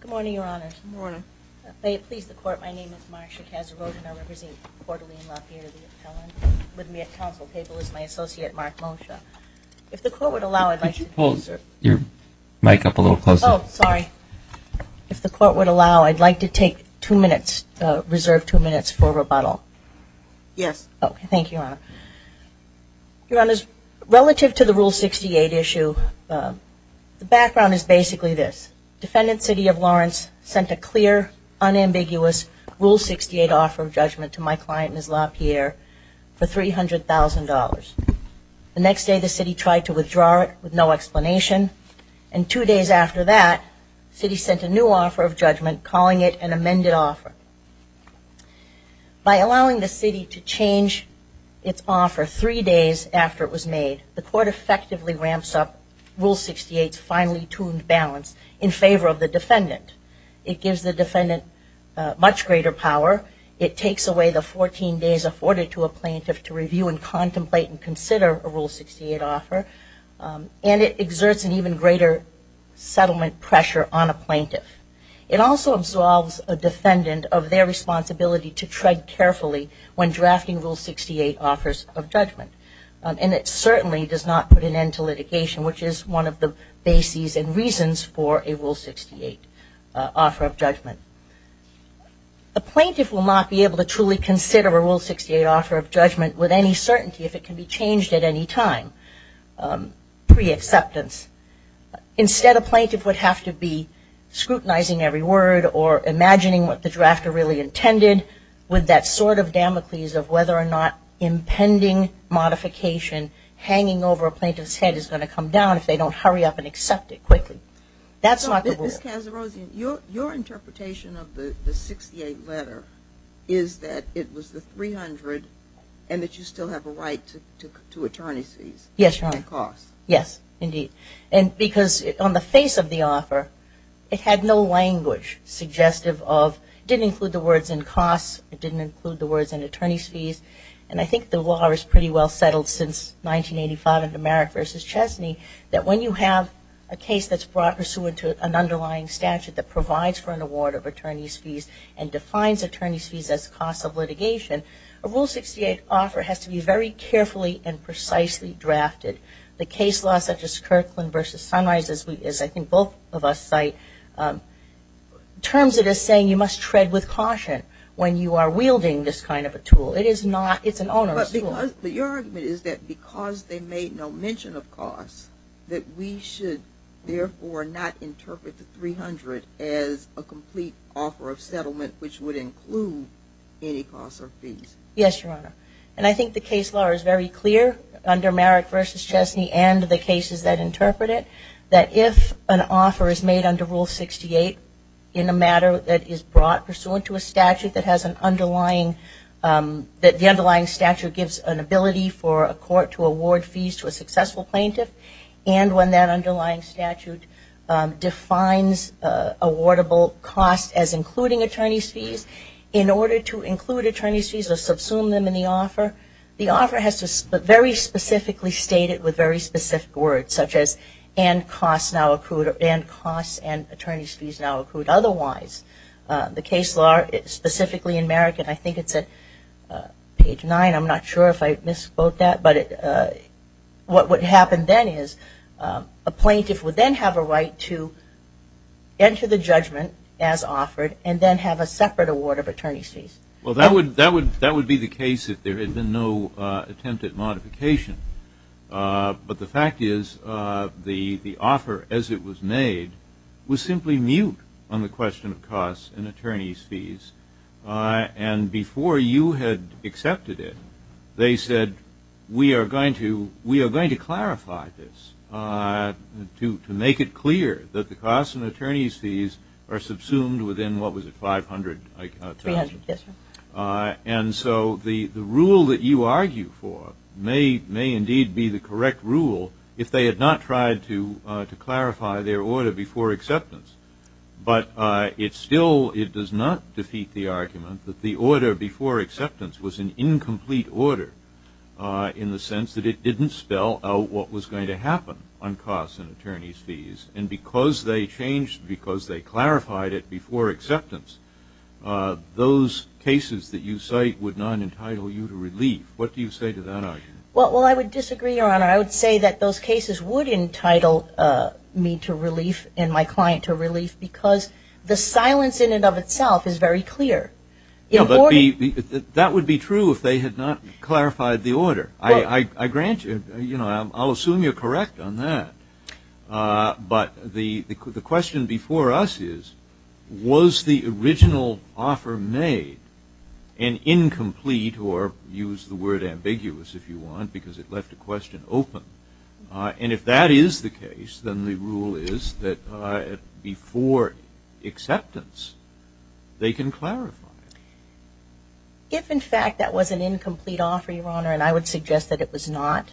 Good morning, Your Honors. May it please the Court, my name is Marcia Cazarota, and I represent counsel table is my associate, Mark Mosha. If the Court would allow, I'd like to take two minutes, reserve two minutes for rebuttal. Yes. Okay, thank you, Your Honor. Your Honors, relative to the Rule 68 issue, the background is basically this, Defendant City of The next day the City tried to withdraw it with no explanation, and two days after that, the City sent a new offer of judgment, calling it an amended offer. By allowing the City to change its offer three days after it was made, the Court effectively ramps up Rule 68's finely-tuned balance in favor of the defendant. It gives the defendant much greater power. It takes away the 14 days afforded to a plaintiff to review and contemplate and consider a Rule 68 offer, and it exerts an even greater settlement pressure on a plaintiff. It also absolves a defendant of their responsibility to tread carefully when drafting Rule 68 offers of judgment, and it certainly does not put an end to litigation, which is one of the bases and reasons for a Rule 68 offer of judgment. A plaintiff will not be able to truly consider a Rule 68 offer of judgment with any certainty if it can be changed at any time pre-acceptance. Instead, a plaintiff would have to be scrutinizing every word or imagining what the drafter really intended with that sort of Damocles of whether or not impending modification hanging over a plaintiff's head is going to come down if they don't hurry up and accept it quickly. That's not the rule. Ms. Kazerouzian, your interpretation of the 68 letter is that it was the 300 and that you still have a right to attorney's fees and costs. Yes, Your Honor. Yes, indeed. And because on the face of the offer, it had no language suggestive of, it didn't include the words in costs, it didn't include the words in attorney's fees, and I think the law is pretty well settled since 1985 under Merrick v. Chesney that when you have a case that's brought pursuant to an underlying statute that provides for an award of attorney's fees and defines attorney's fees as costs of litigation, a Rule 68 offer has to be very carefully and precisely drafted. The case law such as Kirkland v. Sunrise, as I think both of us cite, terms it as saying you must tread with caution when you are wielding this kind of a tool. It is not, it's an onerous tool. But your argument is that because they made no mention of costs, that we should therefore not interpret the 300 as a complete offer of settlement which would include any costs or fees. Yes, Your Honor. And I think the case law is very clear under Merrick v. Chesney and the cases that interpret it, that if an offer is made under Rule 68 in a matter that is brought pursuant to a statute that has an underlying, that the underlying statute gives an ability for a court to award fees to a successful plaintiff, and when that underlying statute defines awardable costs as including attorney's fees, in order to include attorney's fees or subsume them in the offer, the offer has to very specifically state it with very specific words such as and costs now accrued, and costs and now accrued otherwise. The case law, specifically in Merrick, and I think it's at page 9, I'm not sure if I misspoke that, but what would happen then is a plaintiff would then have a right to enter the judgment as offered and then have a separate award of attorney's fees. Well, that would be the case if there had been no attempted modification. But the fact is the offer as it was made was simply mute on the question of costs and attorney's fees, and before you had accepted it, they said, we are going to clarify this to make it clear that the costs and attorney's fees are subsumed within, what was it, 500,000? And so the rule that you argue for may indeed be the correct rule if they had not tried to clarify their order before acceptance. But it still, it does not defeat the argument that the order before acceptance was an incomplete order in the sense that it didn't spell out what was going to happen on Well, I would disagree, Your Honor. I would say that those cases would entitle me to relief and my client to relief because the silence in and of itself is very clear. That would be true if they had not clarified the order. I grant you, I'll assume you're correct on that. But the question before us is, was the an incomplete, or use the word ambiguous if you want, because it left the question open. And if that is the case, then the rule is that before acceptance, they can clarify. If in fact that was an incomplete offer, Your Honor, and I would suggest that it was not,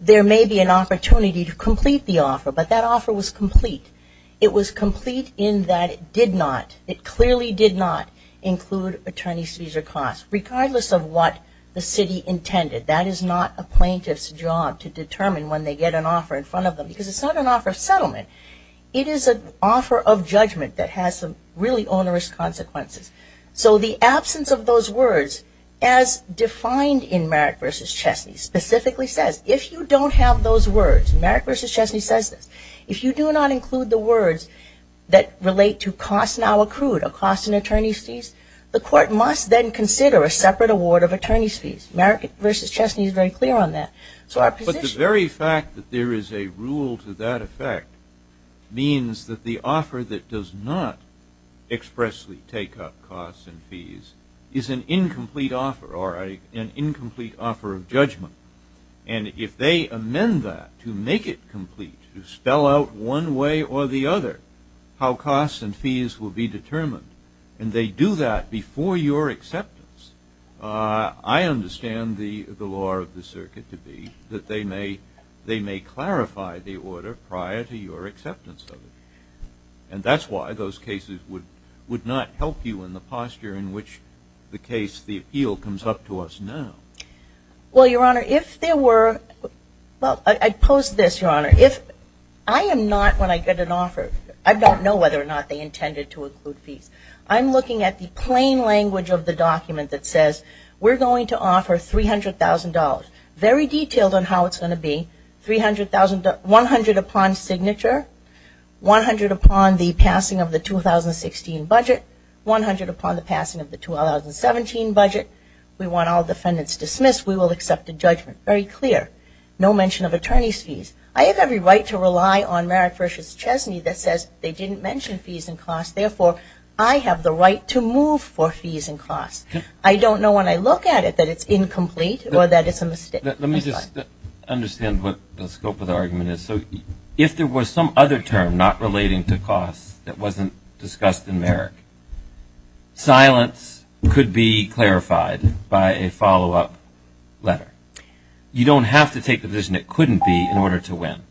there may be an opportunity to complete the offer, but that offer was complete. It was complete in that it did not, it clearly did not include attorney's fees or costs, regardless of what the city intended. That is not a plaintiff's job to determine when they get an offer in front of them because it's not an offer of settlement. It is an offer of judgment that has some really onerous consequences. So the absence of those words as defined in Merrick v. Chesney specifically says, if you don't have those words, Merrick v. Chesney says this, if you do not include the words that relate to costs now accrued or costs and attorney's fees, the court must then consider a separate award of attorney's fees. Merrick v. Chesney is very clear on that. But the very fact that there is a rule to that effect means that the offer that does not expressly take up costs and fees is an incomplete offer or an exception to the law. So if you do not call out one way or the other how costs and fees will be determined, and they do that before your acceptance, I understand the law of the circuit to be that they may clarify the order prior to your acceptance of it. And that's why those cases would not help you in the posture in which the case, the appeal, comes up to us now. Well, Your Honor, if there were, well, I pose this, Your Honor. If I am not, when I get an offer, I don't know whether or not they intended to include fees. I'm looking at the plain language of the document that says we're going to offer $300,000. Very detailed on how it's going to be. $300,000, 100 upon signature, 100 upon the passing of the 2016 budget, 100 upon the passing of the 2017 budget. We want all defendants dismissed. We will accept a judgment. Very clear. No mention of attorney's fees. I have every right to rely on Merrick v. Chesney that says they didn't mention fees and costs. Therefore, I have the right to move for fees and costs. I don't know when I look at it that it's incomplete or that it's a mistake. Let me just understand what the scope of the argument is. So if there was some other term not relating to costs that wasn't discussed in Merrick, silence could be clarified by a follow-up letter. You don't have to take the position it couldn't be in order to win.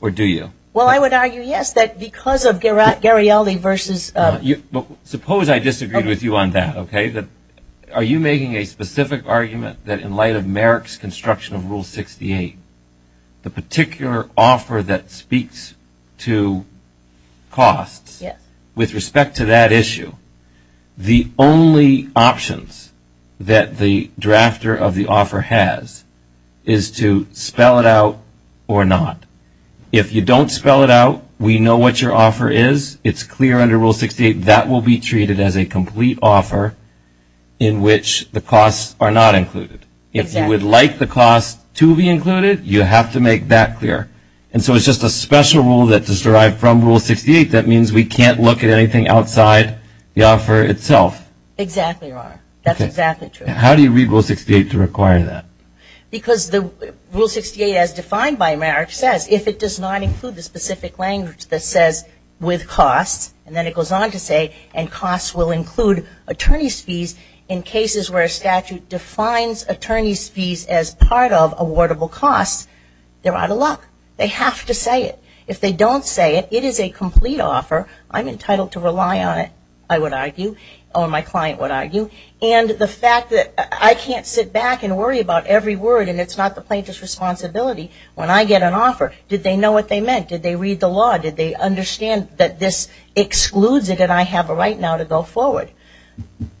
Or do you? Well, I would argue, yes, that because of Garialdi v. Suppose I disagreed with you on that. Are you making a specific argument that in light of Merrick's construction of Rule 68, the particular offer that speaks to costs with respect to that issue, the only options that the drafter of the offer has is to spell it out or not. If you don't spell it out, we know what your offer is. It's clear under Rule 68 that will be treated as a complete offer in which the costs are not included. If you would like the costs to be included, you have to make that clear. And so it's just a special rule that is derived from Rule 68 that means we can't look at anything outside the offer itself. Exactly, Your Honor. That's exactly true. How do you read Rule 68 to require that? Because the Rule 68 as defined by Merrick says, if it does not include the specific language that says, with costs, and then it goes on to say, and costs will include attorney's fees in cases where a statute defines attorney's fees as part of awardable costs, they're out of luck. They have to say it. If they don't say it, it is a complete offer. I'm entitled to rely on it, I would argue, or my client would argue. And the fact that I can't sit back and worry about every word and it's not the plaintiff's responsibility, when I get an offer, did they know what they meant? Did they read the law? Did they understand that this excludes it and I have a right now to go forward?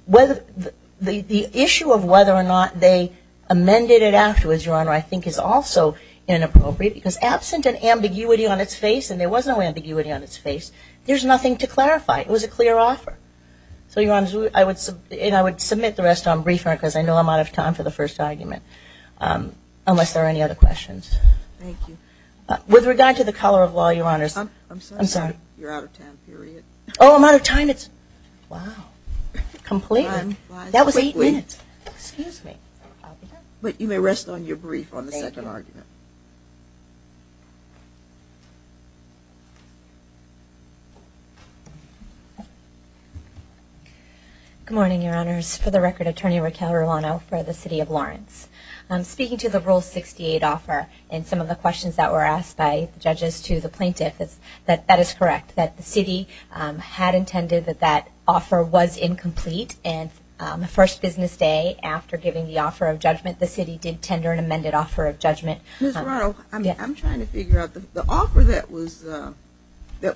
The issue of whether or not they amended it afterwards, Your Honor, I think is also inappropriate because absent an ambiguity on its face, and there was no ambiguity on its face, there's nothing to clarify. It was a clear offer. So Your Honor, I would submit the rest on brief, because I know I'm out of time for the first argument, unless there are any other questions. Thank you. With regard to the color of law, Your Honor, I'm sorry. You're out of time, period. Oh, I'm out of time? It's, wow, completely. That was eight minutes. Excuse me. But you may rest on your brief on the second argument. Good morning, Your Honors. For the record, Attorney Raquel Ruano for the City of Lawrence. Speaking to the Rule 68 offer and some of the questions that were asked by judges to the plaintiff, that is correct, that the City had intended that that offer was incomplete and the first business day after giving the offer of judgment, the City did tender an amended offer of judgment. Ms. Ruano, I'm trying to figure out, the offer that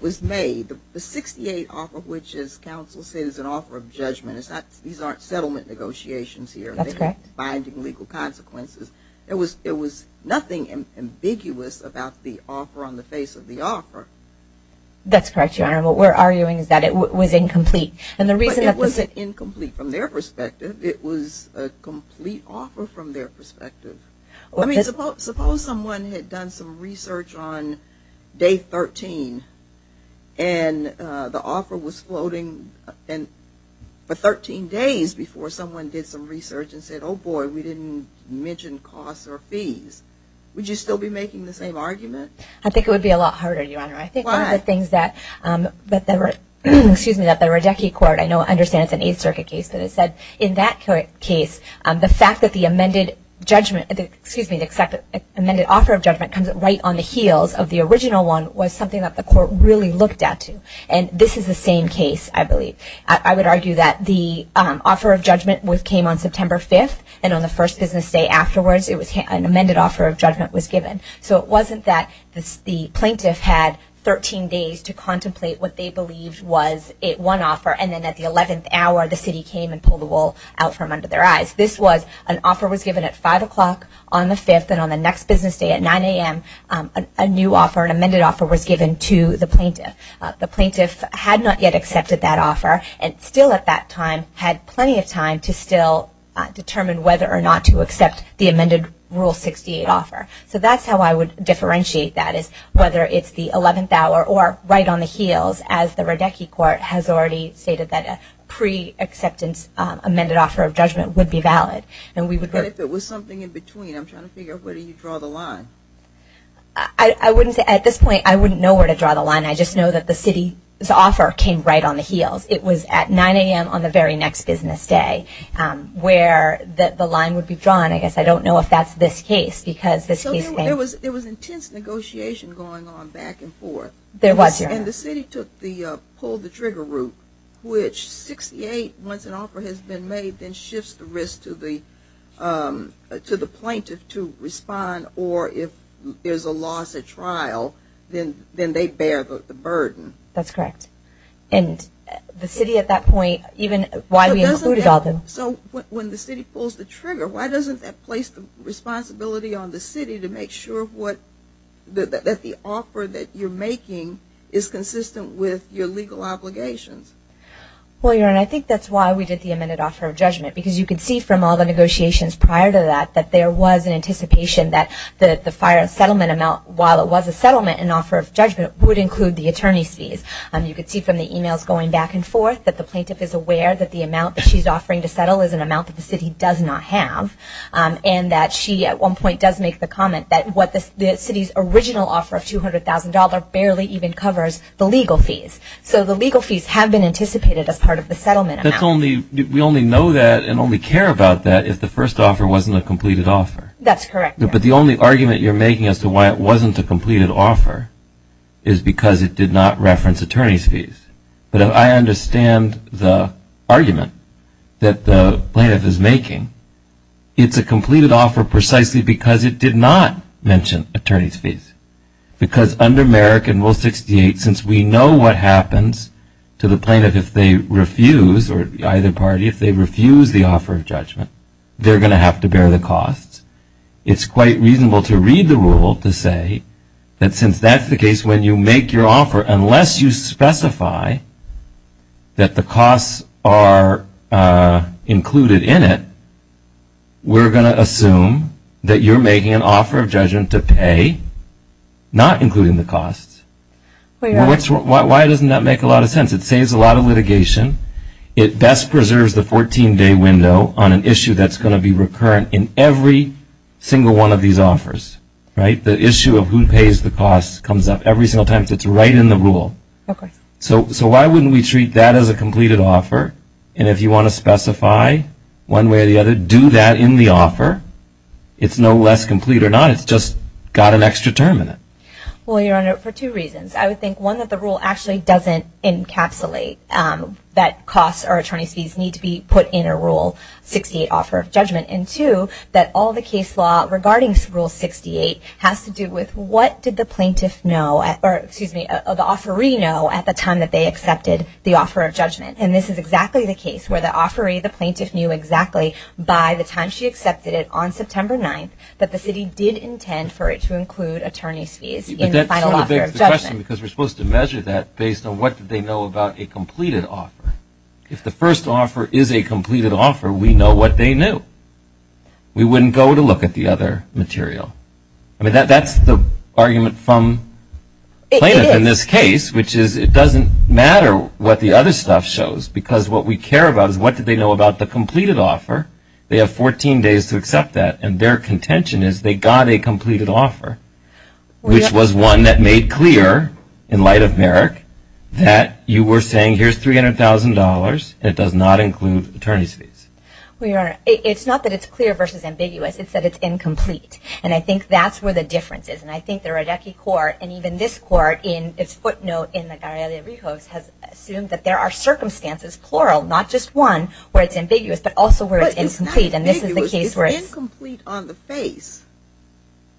was made, the 68 offer, which as counsel said is an offer of judgment, these aren't settlement negotiations here. They're not binding legal consequences. There was nothing ambiguous about the offer on the face of the offer. That's correct, Your Honor. What we're arguing is that it was incomplete. But it wasn't incomplete from their perspective. It was a complete offer from their perspective. Suppose someone had done some research on day 13 and the offer was floating for 13 days before someone did some research and said, oh boy, we didn't mention costs or fees. Would you still be making the same argument? I think it would be a lot harder, Your Honor. Why? I think one of the things that the Radecki Court, I know I understand it's an Eighth Circuit case, but it said in that case, the fact that the amended judgment, excuse me, the amended offer of judgment comes right on the heels of the original one was something that the Court really looked at to. And this is the same case, I believe. I would argue that the offer of judgment came on September 5th and on the first business day afterwards, an amended offer of judgment was given. So it wasn't that the plaintiff had 13 days to contemplate what they believed was one offer and then at the 11th hour, the City came and pulled the judgment at 5 o'clock on the 5th and on the next business day at 9 a.m., a new offer, an amended offer was given to the plaintiff. The plaintiff had not yet accepted that offer and still at that time had plenty of time to still determine whether or not to accept the amended Rule 68 offer. So that's how I would differentiate that is whether it's the 11th hour or right on the heels as the Radecki Court has already stated that a pre-acceptance amended offer of judgment would be valid. And if it was something in between, I'm trying to figure out where do you draw the line? I wouldn't say at this point, I wouldn't know where to draw the line. I just know that the City's offer came right on the heels. It was at 9 a.m. on the very next business day where the line would be drawn. I guess I don't know if that's this case. Because there was intense negotiation going on back and forth. There was. And the City took the pull-the-trigger route, which 68, once an offer has been made, then shifts the risk to the plaintiff to respond. Or if there's a loss at trial, then they bear the burden. That's correct. And the City at that point, even why we included all of them. So when the City pulls the trigger, why doesn't that place the responsibility on the City to make sure that the offer that you're making is consistent with your legal obligations? Well, your Honor, I think that's why we did the amended offer of judgment. Because you could see from all the negotiations prior to that, that there was an anticipation that the fire settlement amount, while it was a settlement, an offer of judgment would include the attorney's fees. You could see from the emails going back and forth that the plaintiff is aware that the amount that she's offering to settle is an amount that the City does not have. And that she, at one point, does make the comment that what the City's original offer of $200,000 barely even covers the legal fees. So the legal fees have been anticipated as part of the settlement amount. That's only-we only know that and only care about that if the first offer wasn't a completed offer. That's correct. But the only argument you're making as to why it wasn't a completed offer is because it did not reference attorney's fees. But I understand the argument that the plaintiff is making. It's a completed offer precisely because it did not mention attorney's fees. Because under Merrick and Rule 68, since we know what happens to the plaintiff if they refuse, or either party, if they refuse the offer of judgment, they're going to have to bear the costs. It's quite reasonable to read the rule to say that since that's the case, when you make your offer, unless you specify that the costs are included in it, we're going to assume that you're making an offer of judgment to pay, not including the costs. Why doesn't that make a lot of sense? It saves a lot of litigation. It best preserves the 14-day window on an issue that's going to be recurrent in every single one of these offers. Right? The issue of who pays the costs comes up every single time. It's right in the rule. Okay. So why wouldn't we treat that as a completed offer? And if you want to specify one way or the other, do that in the offer. It's no less complete or not. It's just got an extra term in it. Well, Your Honor, for two reasons. I would think, one, that the rule actually doesn't encapsulate that costs or attorney's fees need to be put in a Rule 68 offer of judgment. And two, that all the case law regarding Rule 68 has to do with what did the plaintiff know, or excuse me, the offeree know at the time that they accepted the offer of judgment. And this is exactly the case where the offeree, the plaintiff, knew exactly by the time she accepted it on September 9th that the city did intend for it to include attorney's fees in the final offer of judgment. But that sort of begs the question because we're supposed to measure that based on what did they know about a completed offer. If the first offer is a completed offer, we know what they knew. We wouldn't go to look at the other material. I mean, that's the argument from plaintiff in this case, which is it doesn't matter what the other stuff shows because what we care about is what did they know about the completed offer. They have 14 days to accept that. And their contention is they got a completed offer, which was one that made clear in light of Merrick that you were saying here's $300,000. It does not include attorney's fees. Well, Your Honor, it's not that it's clear versus ambiguous. It's that it's incomplete. And I think that's where the difference is. And I think the Rodecki court and even this court in its footnote in the Garelia-Rijos has assumed that there are circumstances, plural, not just one where it's ambiguous, but also where it's incomplete. And this is the case where it's... But it's not ambiguous. It's incomplete on the face.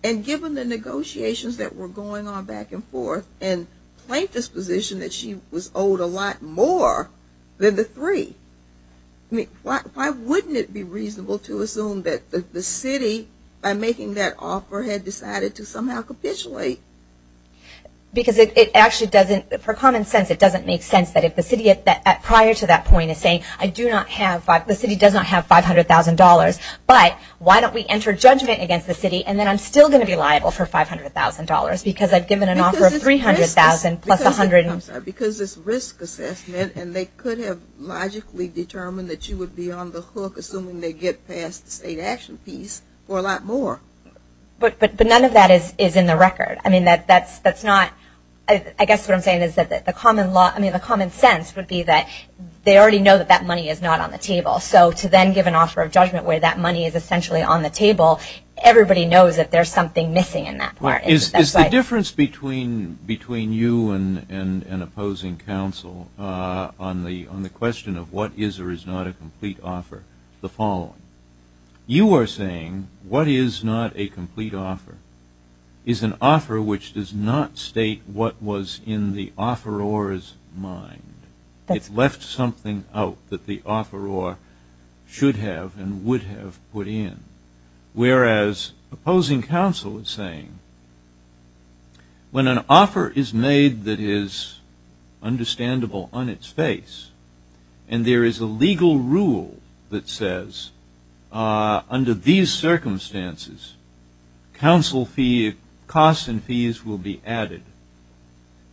And given the negotiations that were going on back and forth and plaintiff's position that she was owed a lot more than the three, I mean, why wouldn't it be reasonable to assume that the city, by making that offer, had decided to somehow capitulate? Because it actually doesn't, for common sense, it doesn't make sense that if the city prior to that point is saying, I do not have, the city does not have $500,000, but why don't we enter judgment against the city and then I'm still going to be liable for $500,000 because I've given an offer of $300,000 plus $100,000. Because it's risk assessment and they could have logically determined that you would be on the hook assuming they get past the state action piece for a lot more. But none of that is in the record. I mean, that's not, I guess what I'm saying is that the common law, I mean, the common sense would be that they already know that that money is not on the table. So to then give an offer of judgment where that money is essentially on the table, everybody knows that there's something missing in that part. Is the difference between you and an opposing counsel on the question of what is or is not a complete offer the following? You are saying what is not a complete offer is an offer which does not state what was in the offeror's mind. It left something out that the offeror should have and would have put in. Whereas opposing counsel is saying when an offer is made that is understandable on its face and there is a legal rule that says under these circumstances, counsel fee costs and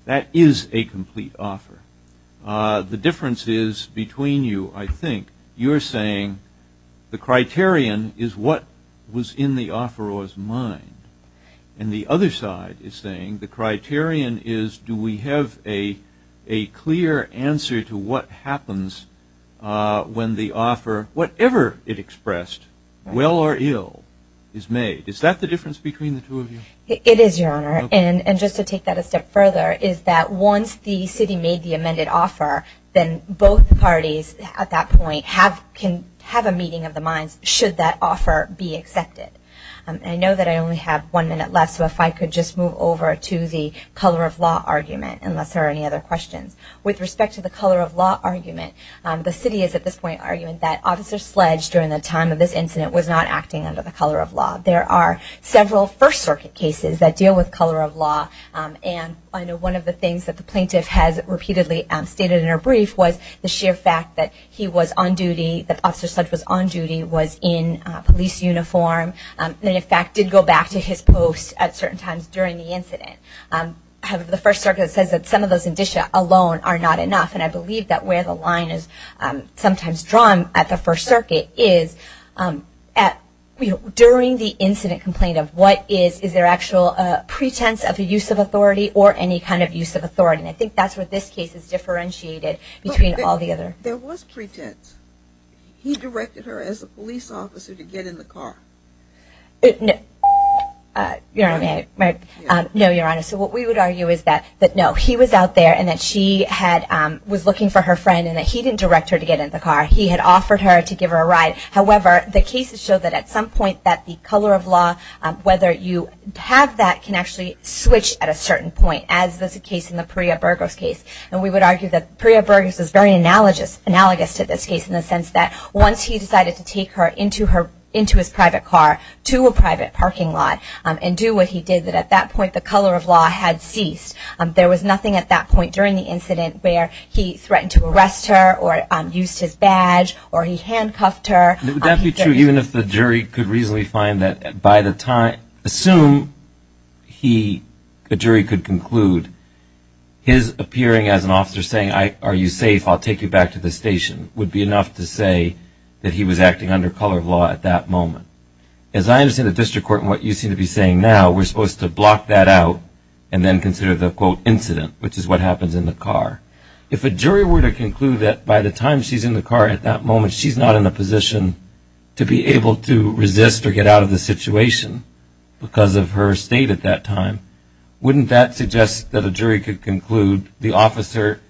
that is a complete offer. The difference is between you, I think, you're saying the criterion is what was in the offeror's mind. And the other side is saying the criterion is do we have a clear answer to what happens when the offer, whatever it expressed, well or ill, is made. Is that the difference between the two of you? It is, Your Honor. And just to take that a step further, is that once the city made the amended offer, then both parties at that point can have a meeting of the minds should that offer be accepted. I know that I only have one minute left, so if I could just move over to the color of law argument, unless there are any other questions. With respect to the color of law argument, the city is at this point arguing that Officer Sledge during the time of this incident was not acting under the color of law. There are several First Circuit cases that deal with color of law, and I know one of the things that the plaintiff has repeatedly stated in her brief was the sheer fact that he was on duty, that Officer Sledge was on duty, was in police uniform, and in fact did go back to his post at certain times during the incident. The First Circuit says that some of those indicia alone are not enough, and I believe that where the line is sometimes drawn at the First Circuit is during the incident complaint of what is, is there actual pretense of the use of authority or any kind of use of authority. And I think that's where this case is differentiated between all the other. There was pretense. He directed her as a police officer to get in the car. No, Your Honor, so what we would argue is that no, he was out there and that she was looking for her friend and that he didn't direct her to get in the car. He had offered her to give her a ride. However, the cases show that at some point that the color of law, whether you have that can actually switch at a certain point, as was the case in the Priya Burgos case. And we would argue that Priya Burgos is very analogous to this case in the sense that once he decided to take her into his private car to a private parking lot and do what he did, that at that point the color of law had ceased. There was nothing at that point during the incident where he threatened to arrest her or used his badge or he handcuffed her. Would that be true even if the jury could reasonably find that by the time, assume he, the jury could conclude, his appearing as an officer saying, are you safe, I'll take you back to the station, would be enough to say that he was acting under color of law at that moment. As I understand the district court and what you seem to be saying now, we're supposed to block that out and then consider the, quote, incident, which is what happens in the car. If a jury were to conclude that by the time she's in the car at that moment she's not in a position to be able to resist or get out of the situation because of her state at that time, wouldn't that suggest that a jury could conclude the officer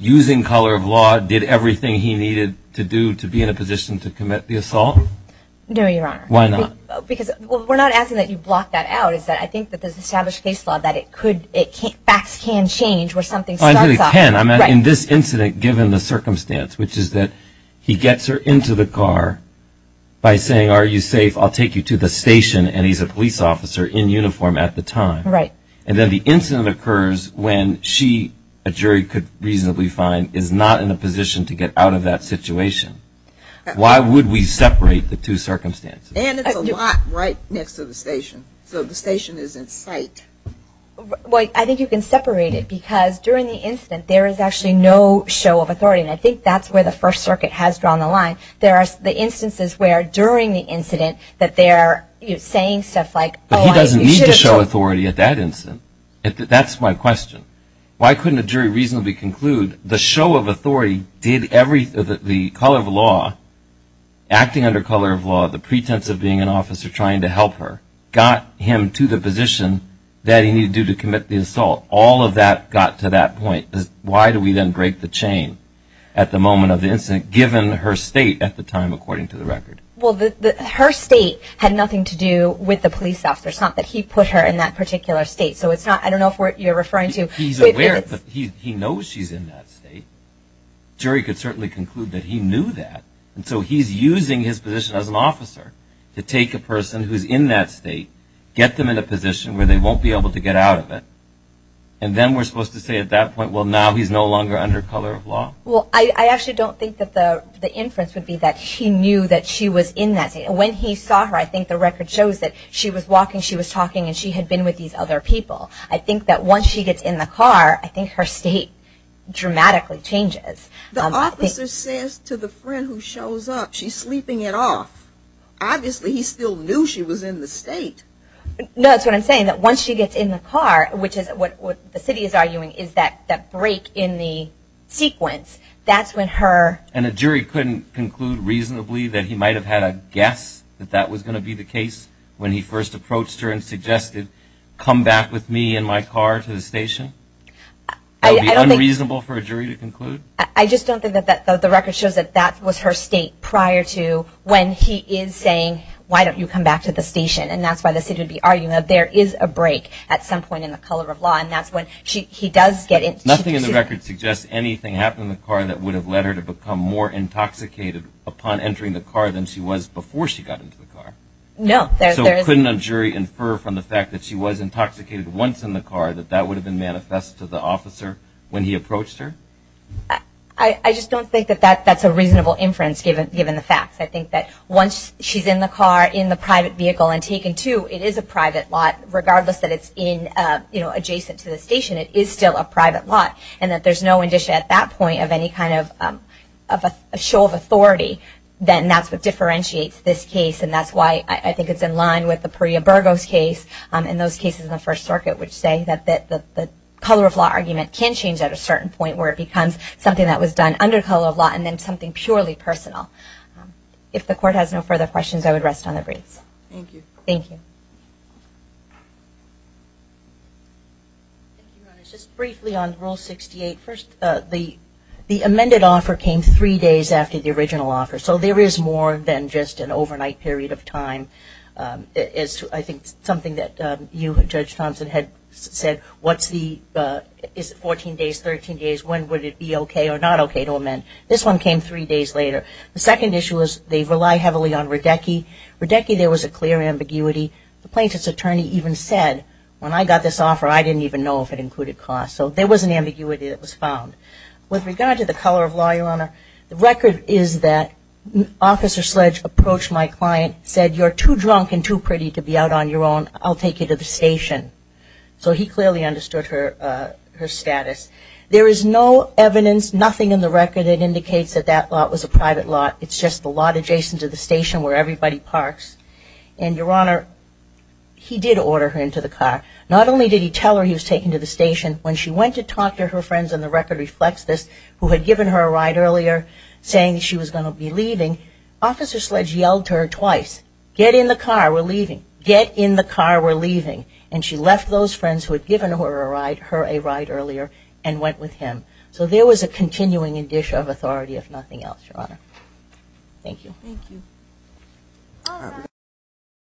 using color of law did everything he needed to do to be in a position to commit the assault? No, Your Honor. Why not? Because, well, we're not asking that you block that out. It's that I think that there's established case law that it could, facts can change where something starts off. It can. In this incident, given the circumstance, which is that he gets her into the car by saying, are you safe, I'll take you to the station, and he's a police officer in uniform at the time. Right. And then the incident occurs when she, a jury could reasonably find, is not in a position to get out of that situation. Why would we separate the two circumstances? And it's a lot right next to the station. So the station is in sight. Well, I think you can separate it because during the incident there is actually no show of authority. And I think that's where the First Circuit has drawn the line. There are the instances where during the incident that they're saying stuff like, oh, I should have told you. But he doesn't need to show authority at that instant. That's my question. Why couldn't a jury reasonably conclude the show of authority did everything, the color of law, acting under color of law, the pretense of being an officer trying to help her, got him to the position that he needed to do to commit the assault. All of that got to that point. Why do we then break the chain at the moment of the incident, given her state at the time, according to the record? Well, her state had nothing to do with the police officer. It's not that he put her in that particular state. So it's not, I don't know if you're referring to. He's aware. He knows she's in that state. Jury could certainly conclude that he knew that. And so he's using his position as an officer to take a person who's in that state, get them in a position where they won't be able to get out of it. And then we're supposed to say at that point, well, now he's no longer under color of law. Well, I actually don't think that the inference would be that he knew that she was in that state. When he saw her, I think the record shows that she was walking, she was talking, and she had been with these other people. I think that once she gets in the car, I think her state dramatically changes. The officer says to the friend who shows up, she's sleeping it off. Obviously, he still knew she was in the state. No, that's what I'm saying, that once she gets in the car, which is what the city is arguing, is that break in the sequence, that's when her. And a jury couldn't conclude reasonably that he might have had a guess that that was going to be the case when he first approached her and suggested, come back with me in my car to the station? That would be unreasonable for a jury to conclude? I just don't think that the record shows that that was her state prior to when he is saying, why don't you come back to the station? And that's why the city would be arguing that there is a break at some point in the color of law, and that's when he does get in. Nothing in the record suggests anything happened in the car that would have led her to become more intoxicated upon entering the car than she was before she got into the car. No. So couldn't a jury infer from the fact that she was intoxicated once in the car that that would have been manifest to the officer when he approached her? I just don't think that that's a reasonable inference, given the facts. I think that once she's in the car, in the private vehicle, and taken to, it is a private lot, regardless that it's adjacent to the station. It is still a private lot. And that there's no indicia at that point of any kind of a show of authority, then that's what differentiates this case. And that's why I think it's in line with the Perea-Burgos case and those cases in the First Circuit, which say that the color of law argument can change at a certain point where it becomes something that was done under color of law and then something purely personal. If the Court has no further questions, I would rest on the briefs. Thank you. Thank you. Thank you, Your Honors. Just briefly on Rule 68. First, the amended offer came three days after the original offer. So there is more than just an overnight period of time. It is, I think, something that you, Judge Thompson, had said, what's the, is it 14 days, 13 days, when would it be okay or not okay to amend? This one came three days later. The second issue is they rely heavily on Radecki. Radecki, there was a clear ambiguity. The plaintiff's attorney even said, when I got this offer, I didn't even know if it included cost. So there was an ambiguity that was found. With regard to the color of law, Your Honor, the record is that Officer Sledge approached my client, said, you're too drunk and too pretty to be out on your own. I'll take you to the station. So he clearly understood her status. There is no evidence, nothing in the record that indicates that that lot was a private lot. It's just the lot adjacent to the station where everybody parks. And, Your Honor, he did order her into the car. Not only did he tell her he was taking her to the station, when she went to talk to her friends, and the record reflects this, who had given her a ride earlier saying she was going to be leaving, Officer Sledge yelled to her twice, get in the car, we're leaving. Get in the car, we're leaving. And she left those friends who had given her a ride earlier and went with him. So there was a continuing addition of authority, if nothing else, Your Honor. Thank you. Thank you.